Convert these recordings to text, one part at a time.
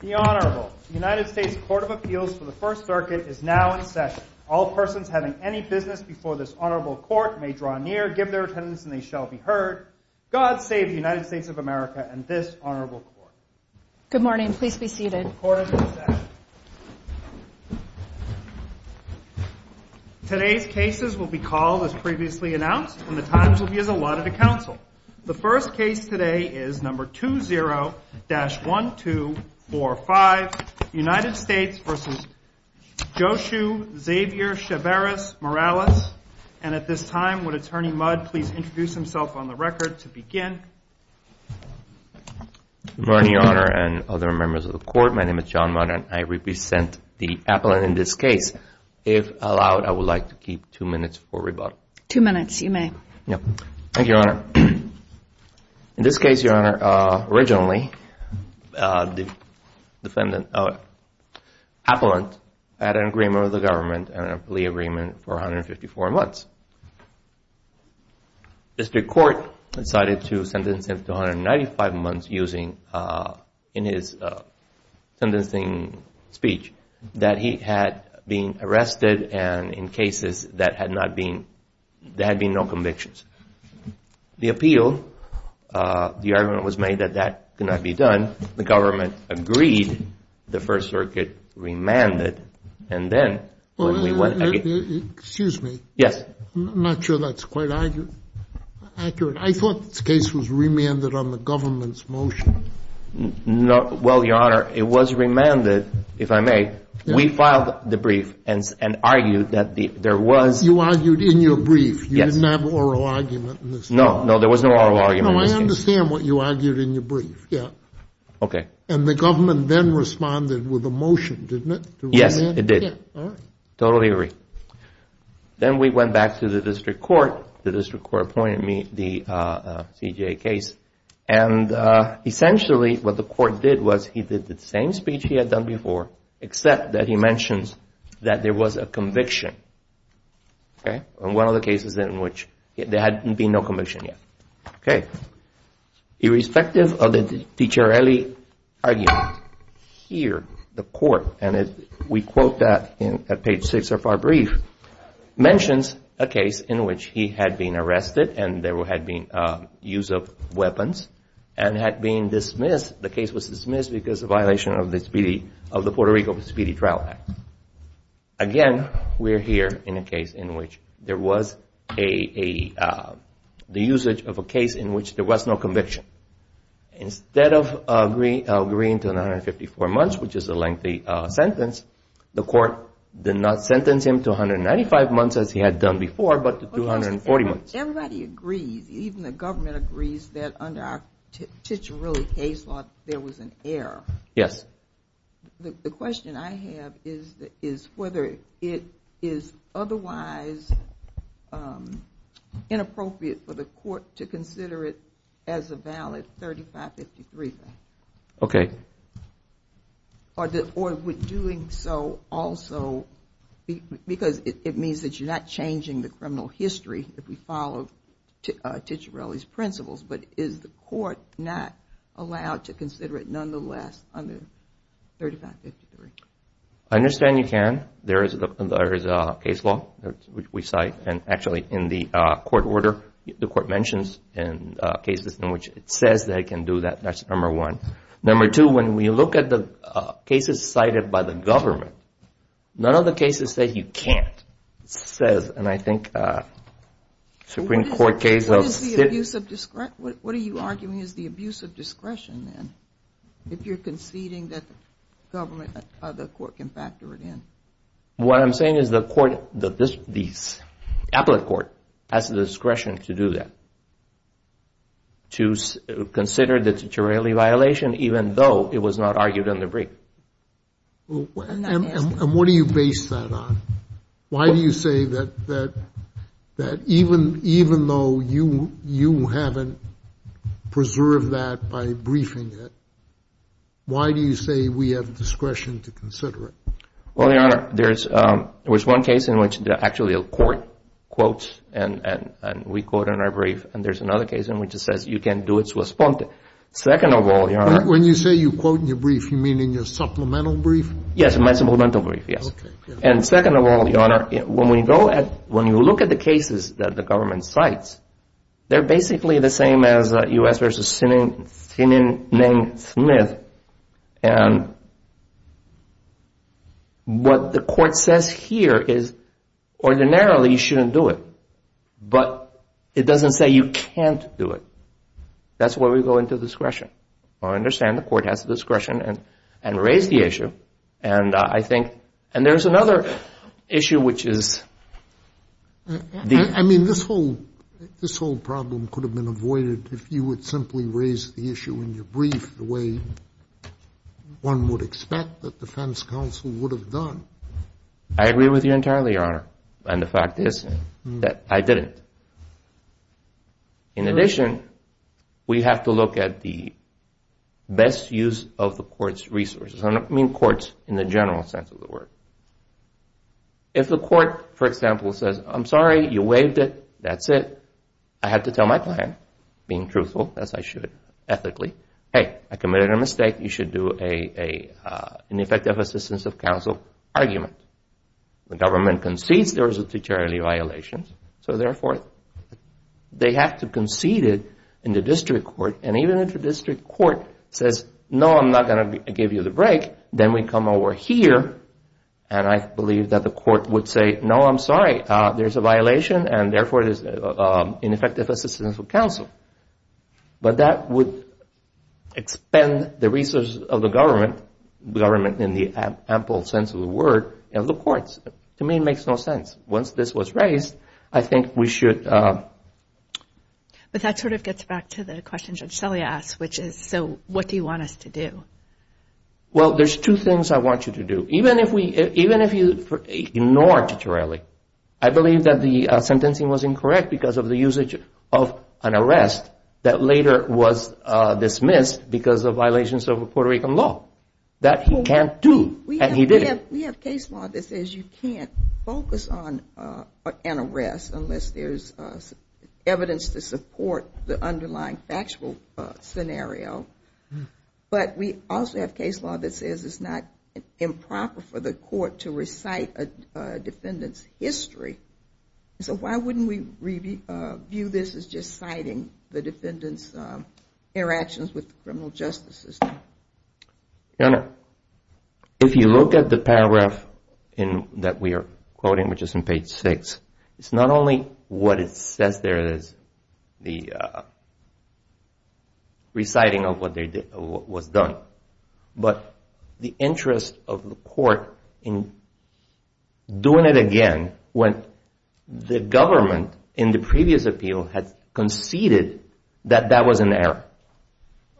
The Honorable, the United States Court of Appeals for the First Circuit is now in session. All persons having any business before this Honorable Court may draw near, give their attendance and they shall be heard. God save the United States of America and this Honorable Court. Good morning. Please be seated. The Court is in session. Today's cases will be called as previously announced and the times will be as allotted to counsel. The first case today is number 20-1245, United States v. Joshua Xavier Cheveres-Morales. And at this time, would Attorney Mudd please introduce himself on the record to begin? Good morning, Your Honor and other members of the Court. My name is John Mudd and I represent the appellant in this case. If allowed, I would like to keep two minutes for rebuttal. Thank you, Your Honor. In this case, Your Honor, originally the defendant, appellant, had an agreement with the government and a plea agreement for 154 months. District Court decided to sentence him to 195 months using, in his sentencing speech, that he had been arrested and in cases that had not been, there had been no convictions. The appeal, the argument was made that that could not be done. The government agreed. The First Circuit remanded. And then, when we went again- Excuse me. Yes. I'm not sure that's quite accurate. I thought this case was remanded on the government's motion. No. Well, Your Honor, it was remanded, if I may. We filed the brief and argued that there was- You argued in your brief. Yes. You didn't have an oral argument in this case. No. No. There was no oral argument in this case. No. I understand what you argued in your brief. Yeah. Okay. And the government then responded with a motion, didn't it? To remand? Yes. It did. All right. Totally agree. Then we went back to the District Court. The District Court appointed me the CJA case. And essentially, what the court did was, he did the same speech he had done before, except that he mentions that there was a conviction, okay, on one of the cases in which there had been no conviction yet, okay? Irrespective of the DiCiarelli argument, here, the court, and we quote that at page six of our brief, mentions a case in which he had been arrested and there had been use of weapons and had been dismissed. The case was dismissed because of violation of the Puerto Rico Speedy Trial Act. Again, we're here in a case in which there was the usage of a case in which there was no conviction. Instead of agreeing to an 154 months, which is a lengthy sentence, the court did not sentence him to 195 months, as he had done before, but to 240 months. Everybody agrees, even the government agrees, that under our Ciciarelli case law, there was an error. Yes. The question I have is whether it is otherwise inappropriate for the court to consider it as a valid 3553 thing. Okay. Or would doing so also, because it means that you're not changing the criminal history if we follow Ciciarelli's principles, but is the court not allowed to consider it nonetheless under 3553? I understand you can. There is a case law, which we cite, and actually in the court order, the court mentions in cases in which it says they can do that, that's number one. Number two, when we look at the cases cited by the government, none of the cases say you can't. It says, and I think Supreme Court case law. What are you arguing is the abuse of discretion then, if you're conceding that the court can factor it in? What I'm saying is the appellate court has the discretion to do that, to consider the discretion, even though it was not argued in the brief. And what do you base that on? Why do you say that even though you haven't preserved that by briefing it, why do you say we have discretion to consider it? Well, Your Honor, there was one case in which actually a court quotes and we quote in our brief and there's another case in which it says you can do it to a sponte. Second of all, Your Honor. When you say you quote in your brief, you mean in your supplemental brief? Yes, my supplemental brief, yes. And second of all, Your Honor, when we go at, when you look at the cases that the government cites, they're basically the same as U.S. v. Sinning Smith. And what the court says here is ordinarily you shouldn't do it. But it doesn't say you can't do it. That's why we go into discretion. I understand the court has the discretion and raise the issue. And I think, and there's another issue which is. I mean, this whole problem could have been avoided if you would simply raise the issue in your brief the way one would expect that defense counsel would have done. I agree with you entirely, Your Honor. And the fact is that I didn't. In addition, we have to look at the best use of the court's resources. I don't mean courts in the general sense of the word. If the court, for example, says, I'm sorry, you waived it, that's it. I have to tell my client, being truthful, as I should, ethically, hey, I committed a mistake. You should do an effective assistance of counsel argument. The government concedes there was a deteriorating violation. So therefore, they have to concede it in the district court. And even if the district court says, no, I'm not going to give you the break, then we come over here. And I believe that the court would say, no, I'm sorry, there's a violation. And therefore, it is ineffective assistance of counsel. But that would expend the resources of the government, government in the ample sense of the word, of the courts. To me, it makes no sense. Once this was raised, I think we should. But that sort of gets back to the question Judge Selye asked, which is, so what do you want us to do? Well, there's two things I want you to do. Even if you ignore Tutorelli, I believe that the sentencing was incorrect because of the usage of an arrest that later was dismissed because of violations of Puerto Rican law. That he can't do, and he didn't. We have case law that says you can't focus on an arrest unless there's evidence to support the underlying factual scenario. But we also have case law that says it's not improper for the court to recite a defendant's history. So why wouldn't we view this as just citing the defendant's interactions with the criminal justice system? Your Honor, if you look at the paragraph that we are quoting, which is on page six, it's not only what it says there is the reciting of what was done. But the interest of the court in doing it again when the government in the previous appeal had conceded that that was an error.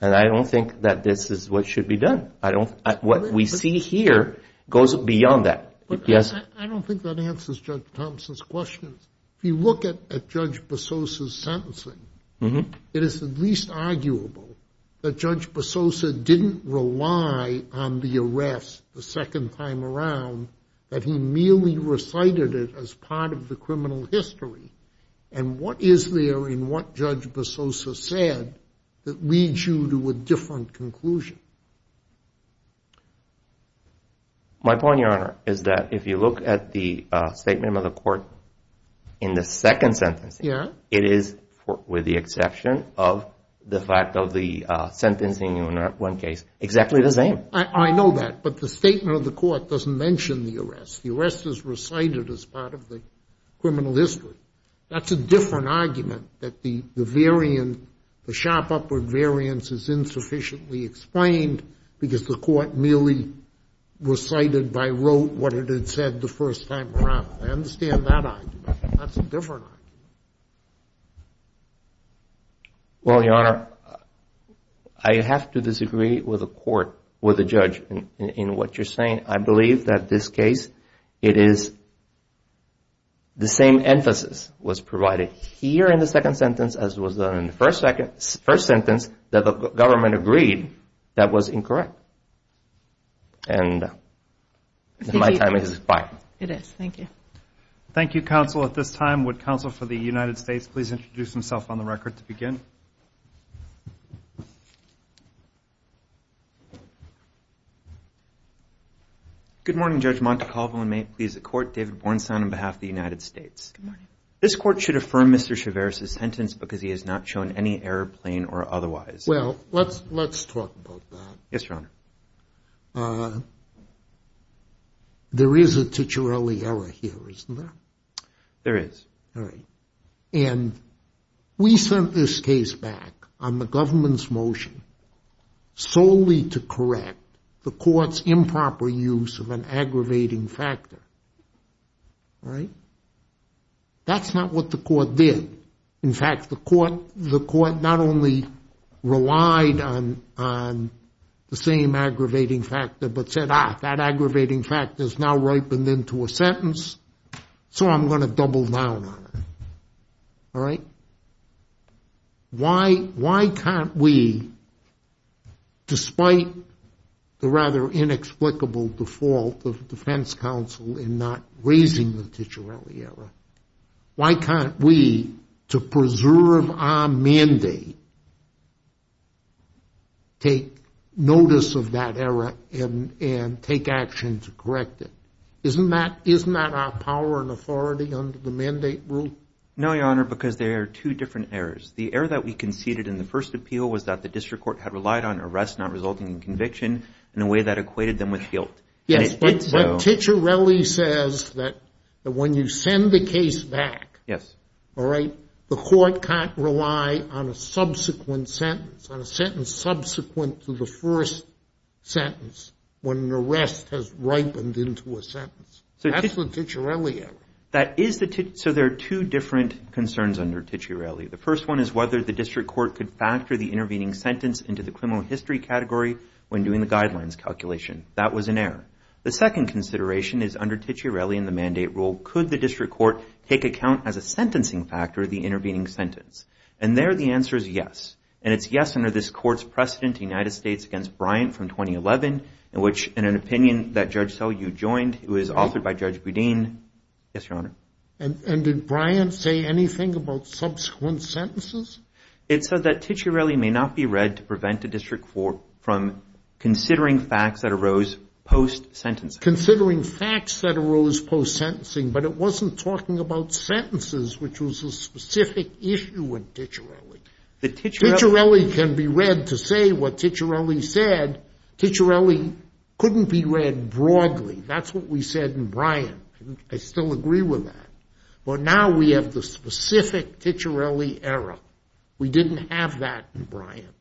And I don't think that this is what should be done. I don't, what we see here goes beyond that. I don't think that answers Judge Thomson's question. If you look at Judge Bososa's sentencing, it is at least arguable that Judge Bososa didn't rely on the arrest the second time around, that he merely recited it as part of the criminal history. And what is there in what Judge Bososa said that leads you to a different conclusion? My point, Your Honor, is that if you look at the statement of the court in the second sentence, it is, with the exception of the fact of the sentencing in one case, exactly the same. I know that. But the statement of the court doesn't mention the arrest. The arrest is recited as part of the criminal history. That's a different argument, that the variant, the sharp upward variance is insufficiently explained because the court merely recited by rote what it had said the first time around. I understand that argument. That's a different argument. Well, Your Honor, I have to disagree with the court, with the judge, in what you're saying. I believe that this case, it is the same emphasis was provided here in the second sentence as was done in the first sentence that the government agreed that was incorrect. And my time has expired. It is. Thank you. Thank you, counsel. At this time, would counsel for the United States please introduce himself on the record to begin? Good morning, Judge Montecalvo. And may it please the court, David Bornstein on behalf of the United States. Good morning. This court should affirm Mr. Chavers' sentence because he has not shown any error, plain or otherwise. Well, let's talk about that. Yes, Your Honor. There is a titularly error here, isn't there? There is. All right. And we sent this case back on the government's motion solely to correct the court's improper use of an aggravating factor. All right. That's not what the court did. In fact, the court not only relied on the same aggravating factor but said, ah, that aggravating factor is now ripened into a sentence, so I'm going to double down on it. All right. Now, why can't we, despite the rather inexplicable default of the defense counsel in not raising the titularly error, why can't we, to preserve our mandate, take notice of that error and take action to correct it? Isn't that our power and authority under the mandate rule? No, Your Honor, because there are two different errors. The error that we conceded in the first appeal was that the district court had relied on arrests not resulting in conviction in a way that equated them with guilt. Yes, but titularly says that when you send the case back, all right, the court can't rely on a subsequent sentence, on a sentence subsequent to the first sentence when an arrest has ripened into a sentence. That's the titularly error. So there are two different concerns under titularly. The first one is whether the district court could factor the intervening sentence into the criminal history category when doing the guidelines calculation. That was an error. The second consideration is under titularly in the mandate rule, could the district court take account as a sentencing factor of the intervening sentence? And there, the answer is yes. And it's yes under this court's precedent, United States against Bryant from 2011, in which in an opinion that Judge Sellew joined, it was authored by Judge Boudin. Yes, Your Honor. And did Bryant say anything about subsequent sentences? It said that titularly may not be read to prevent a district court from considering facts that arose post-sentencing. Considering facts that arose post-sentencing, but it wasn't talking about sentences, which was a specific issue with titularly. The titularly can be read to say what titularly said. Titularly couldn't be read broadly. That's what we said in Bryant. I still agree with that. But now we have the specific titularly error. We didn't have that in Bryant.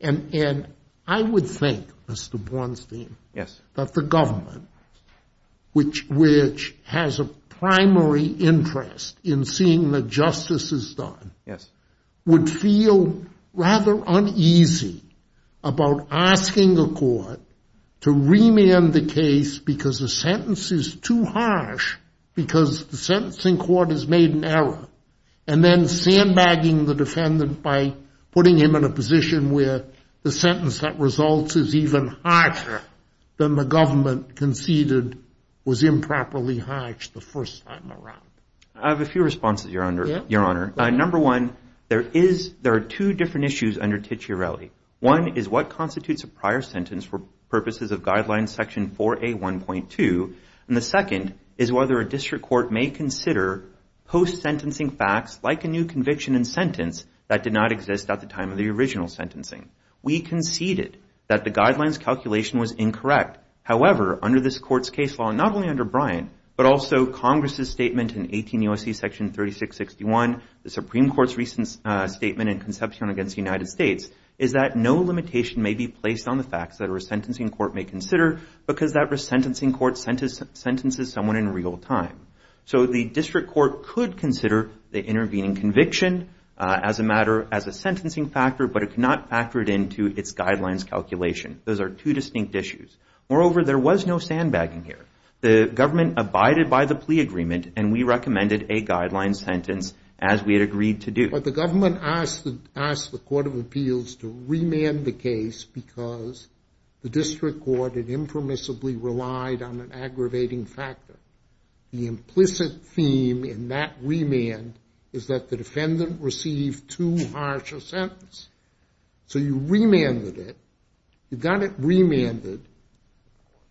And I would think, Mr. Bornstein, that the government, which has a primary interest in seeing that justice is done, would feel rather uneasy about asking the court to remand the case because the sentence is too harsh, because the sentencing court has made an error, and then sandbagging the defendant by putting him in a position where the sentence that results is even harsher than the government conceded was improperly harsh the first time around. I have a few responses, Your Honor. Number one, there are two different issues under titularly. One is what constitutes a prior sentence for purposes of guidelines section 4A1.2. And the second is whether a district court may consider post-sentencing facts like a new conviction and sentence that did not exist at the time of the original sentencing. We conceded that the guidelines calculation was incorrect. However, under this court's case law, not only under Bryant, but also Congress's 18 U.S.C. section 3661, the Supreme Court's recent statement and conception against the United States, is that no limitation may be placed on the facts that a resentencing court may consider because that resentencing court sentences someone in real time. So the district court could consider the intervening conviction as a matter, as a sentencing factor, but it cannot factor it into its guidelines calculation. Those are two distinct issues. Moreover, there was no sandbagging here. The government abided by the plea agreement, and we recommended a guideline sentence as we had agreed to do. But the government asked the Court of Appeals to remand the case because the district court had impermissibly relied on an aggravating factor. The implicit theme in that remand is that the defendant received too harsh a sentence. So you remanded it. You got it remanded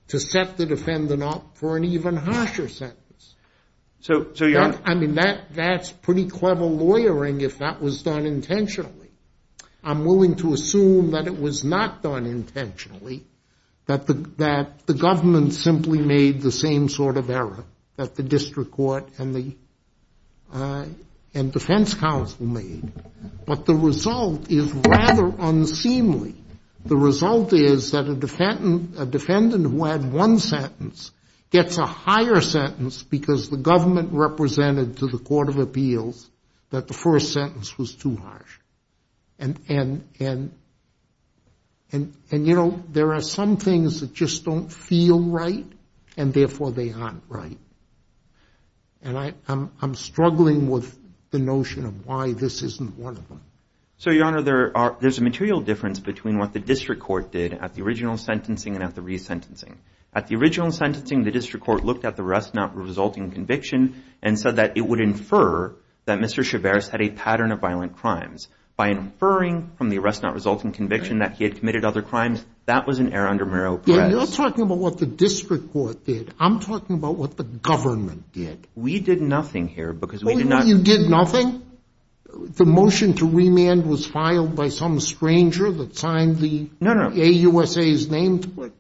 to set the defendant up for an even harsher sentence. I mean, that's pretty clever lawyering if that was done intentionally. I'm willing to assume that it was not done intentionally, that the government simply made the same sort of error that the district court and the defense counsel made. But the result is rather unseemly. The result is that a defendant who had one sentence gets a higher sentence because the government represented to the Court of Appeals that the first sentence was too harsh. And, you know, there are some things that just don't feel right, and therefore they aren't right. And I'm struggling with the notion of why this isn't one of them. So, Your Honor, there's a material difference between what the district court did at the original sentencing and at the resentencing. At the original sentencing, the district court looked at the arrest not resulting conviction and said that it would infer that Mr. Chavez had a pattern of violent crimes. By inferring from the arrest not resulting conviction that he had committed other crimes, that was an error under Murrow-Perez. You're talking about what the district court did. I'm talking about what the government did. We did nothing here because we did not. You did nothing? The motion to remand was filed by some stranger that signed the AUSA's name to it.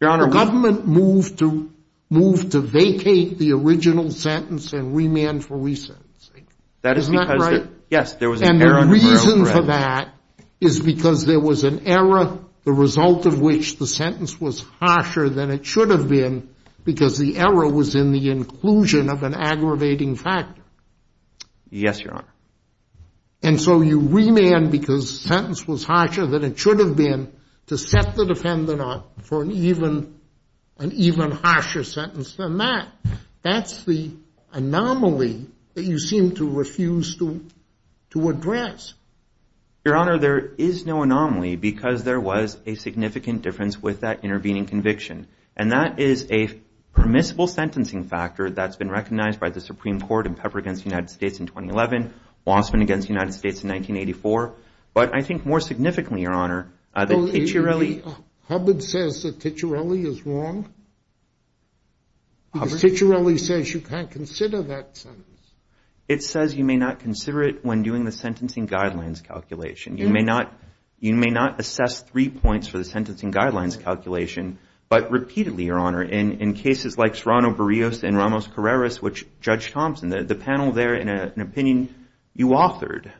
Your Honor, we— The government moved to vacate the original sentence and remand for resentencing. That is because— Isn't that right? Yes, there was an error under Murrow-Perez. And the reason for that is because there was an error, the result of which the sentence was harsher than it should have been because the error was in the inclusion of an aggravating factor. Yes, Your Honor. And so you remand because the sentence was harsher than it should have been to set the defendant up for an even harsher sentence than that. That's the anomaly that you seem to refuse to address. Your Honor, there is no anomaly because there was a significant difference with that intervening conviction. And that is a permissible sentencing factor that's been recognized by the Supreme Court in Pepper v. United States in 2011, Wasserman v. United States in 1984. But I think more significantly, Your Honor, the Ticciarelli— Hubbard says the Ticciarelli is wrong? Because Ticciarelli says you can't consider that sentence. It says you may not consider it when doing the sentencing guidelines calculation. You may not assess three points for the sentencing guidelines calculation, but repeatedly, Your Honor, in cases like Serrano-Barrios and Ramos-Carreras, which Judge Thompson, the panel there, in an opinion you authored,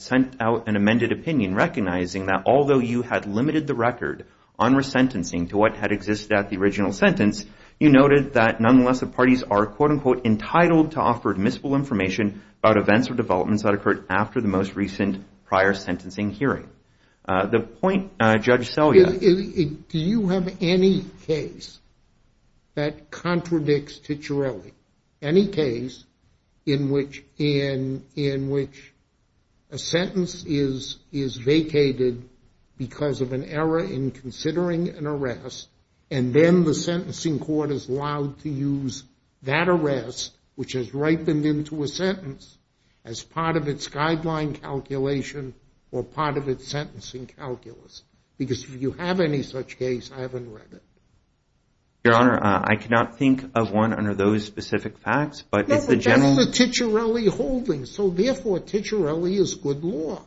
sent out an amended opinion recognizing that although you had limited the record on resentencing to what had existed at the original sentence, you noted that nonetheless the parties are, quote, unquote, entitled to offer admissible information about events or developments that occurred after the most recent prior sentencing hearing. The point, Judge Selya— Do you have any case that contradicts Ticciarelli? Any case in which a sentence is vacated because of an error in considering an arrest and then the sentencing court is allowed to use that arrest, which has ripened into a sentence, as part of its guideline calculation or part of its sentencing calculus? Because if you have any such case, I haven't read it. Your Honor, I cannot think of one under those specific facts, but it's the general— No, but that's the Ticciarelli holding, so therefore Ticciarelli is good law.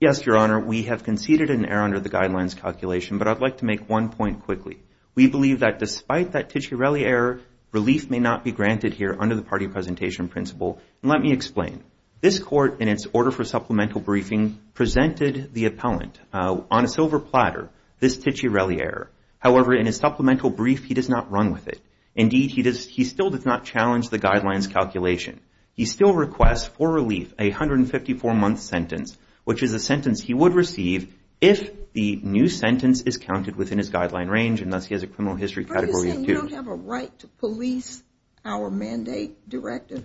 Yes, Your Honor, we have conceded an error under the guidelines calculation, but I'd like to make one point quickly. We believe that despite that Ticciarelli error, relief may not be granted here under the party presentation principle. Let me explain. This court, in its order for supplemental briefing, presented the appellant on a silver platter this Ticciarelli error. However, in his supplemental brief, he does not run with it. Indeed, he still does not challenge the guidelines calculation. He still requests for relief a 154-month sentence, which is a sentence he would receive if the new sentence is counted within his guideline range, and thus he has a criminal history category of two. We don't have a right to police our mandate directive.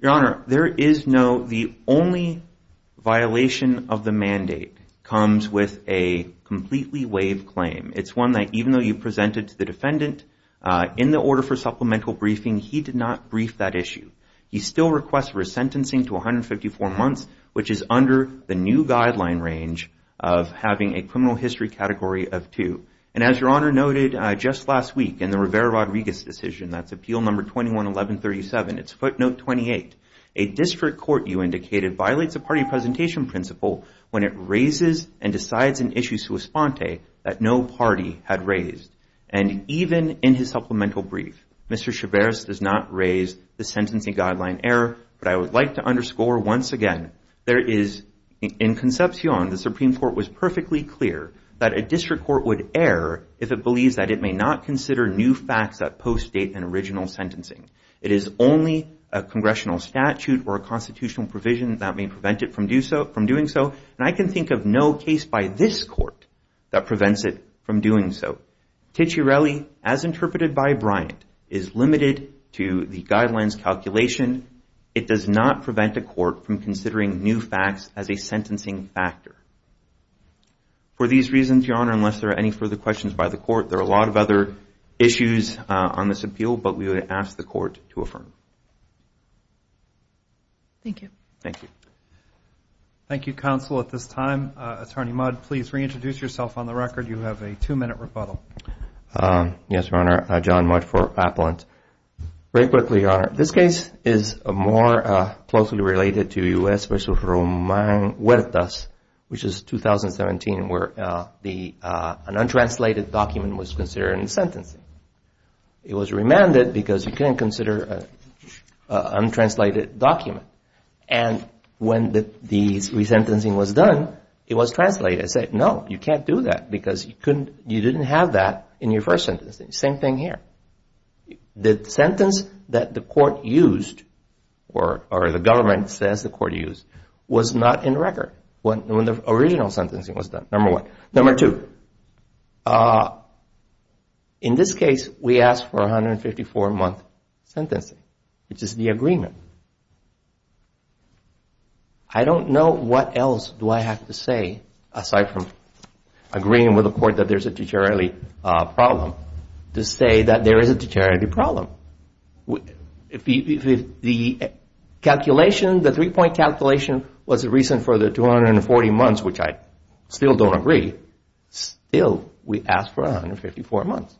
Your Honor, there is no— The only violation of the mandate comes with a completely waived claim. It's one that even though you presented to the defendant in the order for supplemental briefing, he did not brief that issue. He still requests for a sentencing to 154 months, which is under the new guideline range of having a criminal history category of two. And as Your Honor noted just last week in the Rivera-Rodriguez decision, that's appeal number 21-1137, it's footnote 28, a district court, you indicated, violates the party presentation principle when it raises and decides an issue sui sponte that no party had raised. And even in his supplemental brief, Mr. Chavez does not raise the sentencing guideline error. But I would like to underscore once again, there is— In Concepcion, the Supreme Court was perfectly clear that a district court would err if it believes that it may not consider new facts that postdate an original sentencing. It is only a congressional statute or a constitutional provision that may prevent it from doing so. And I can think of no case by this court that prevents it from doing so. Ticciarelli, as interpreted by Bryant, is limited to the guidelines calculation. It does not prevent a court from considering new facts as a sentencing factor. For these reasons, Your Honor, unless there are any further questions by the court, there are a lot of other issues on this appeal, but we would ask the court to affirm. Thank you. Thank you. Thank you, counsel. At this time, Attorney Mudd, please reintroduce yourself on the record. You have a two-minute rebuttal. Yes, Your Honor. John Mudd for Appellant. Very quickly, Your Honor. This case is more closely related to U.S. v. Román Huertas, which is 2017, where an untranslated document was considered in sentencing. It was remanded because you can't consider an untranslated document. And when the resentencing was done, it was translated. I said, no, you can't do that because you didn't have that in your first sentence. Same thing here. The sentence that the court used, or the government says the court used, was not in record. When the original sentencing was done, number one. Number two, in this case, we asked for a 154-month sentencing, which is the agreement. I don't know what else do I have to say, aside from agreeing with the court that there's a de jure problem, to say that there is a de jure problem. If the calculation, the three-point calculation, was the reason for the 240 months, which I still don't agree, still we asked for 154 months.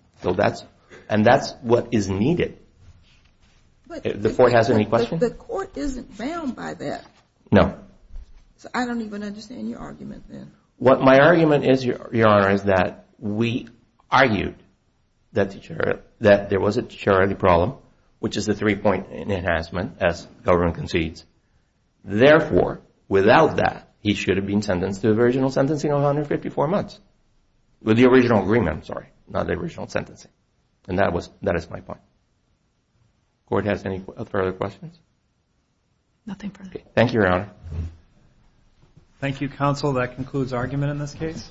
And that's what is needed. The court has any questions? The court isn't bound by that. No. So I don't even understand your argument then. What my argument is, Your Honor, is that we argued that there was a de jure problem, which is the three-point enhancement, as the government concedes. Therefore, without that, he should have been sentenced to the original sentencing of 154 months. With the original agreement, I'm sorry. Not the original sentencing. And that is my point. Court has any further questions? Nothing further. Thank you, Your Honor. Thank you, counsel. That concludes argument in this case.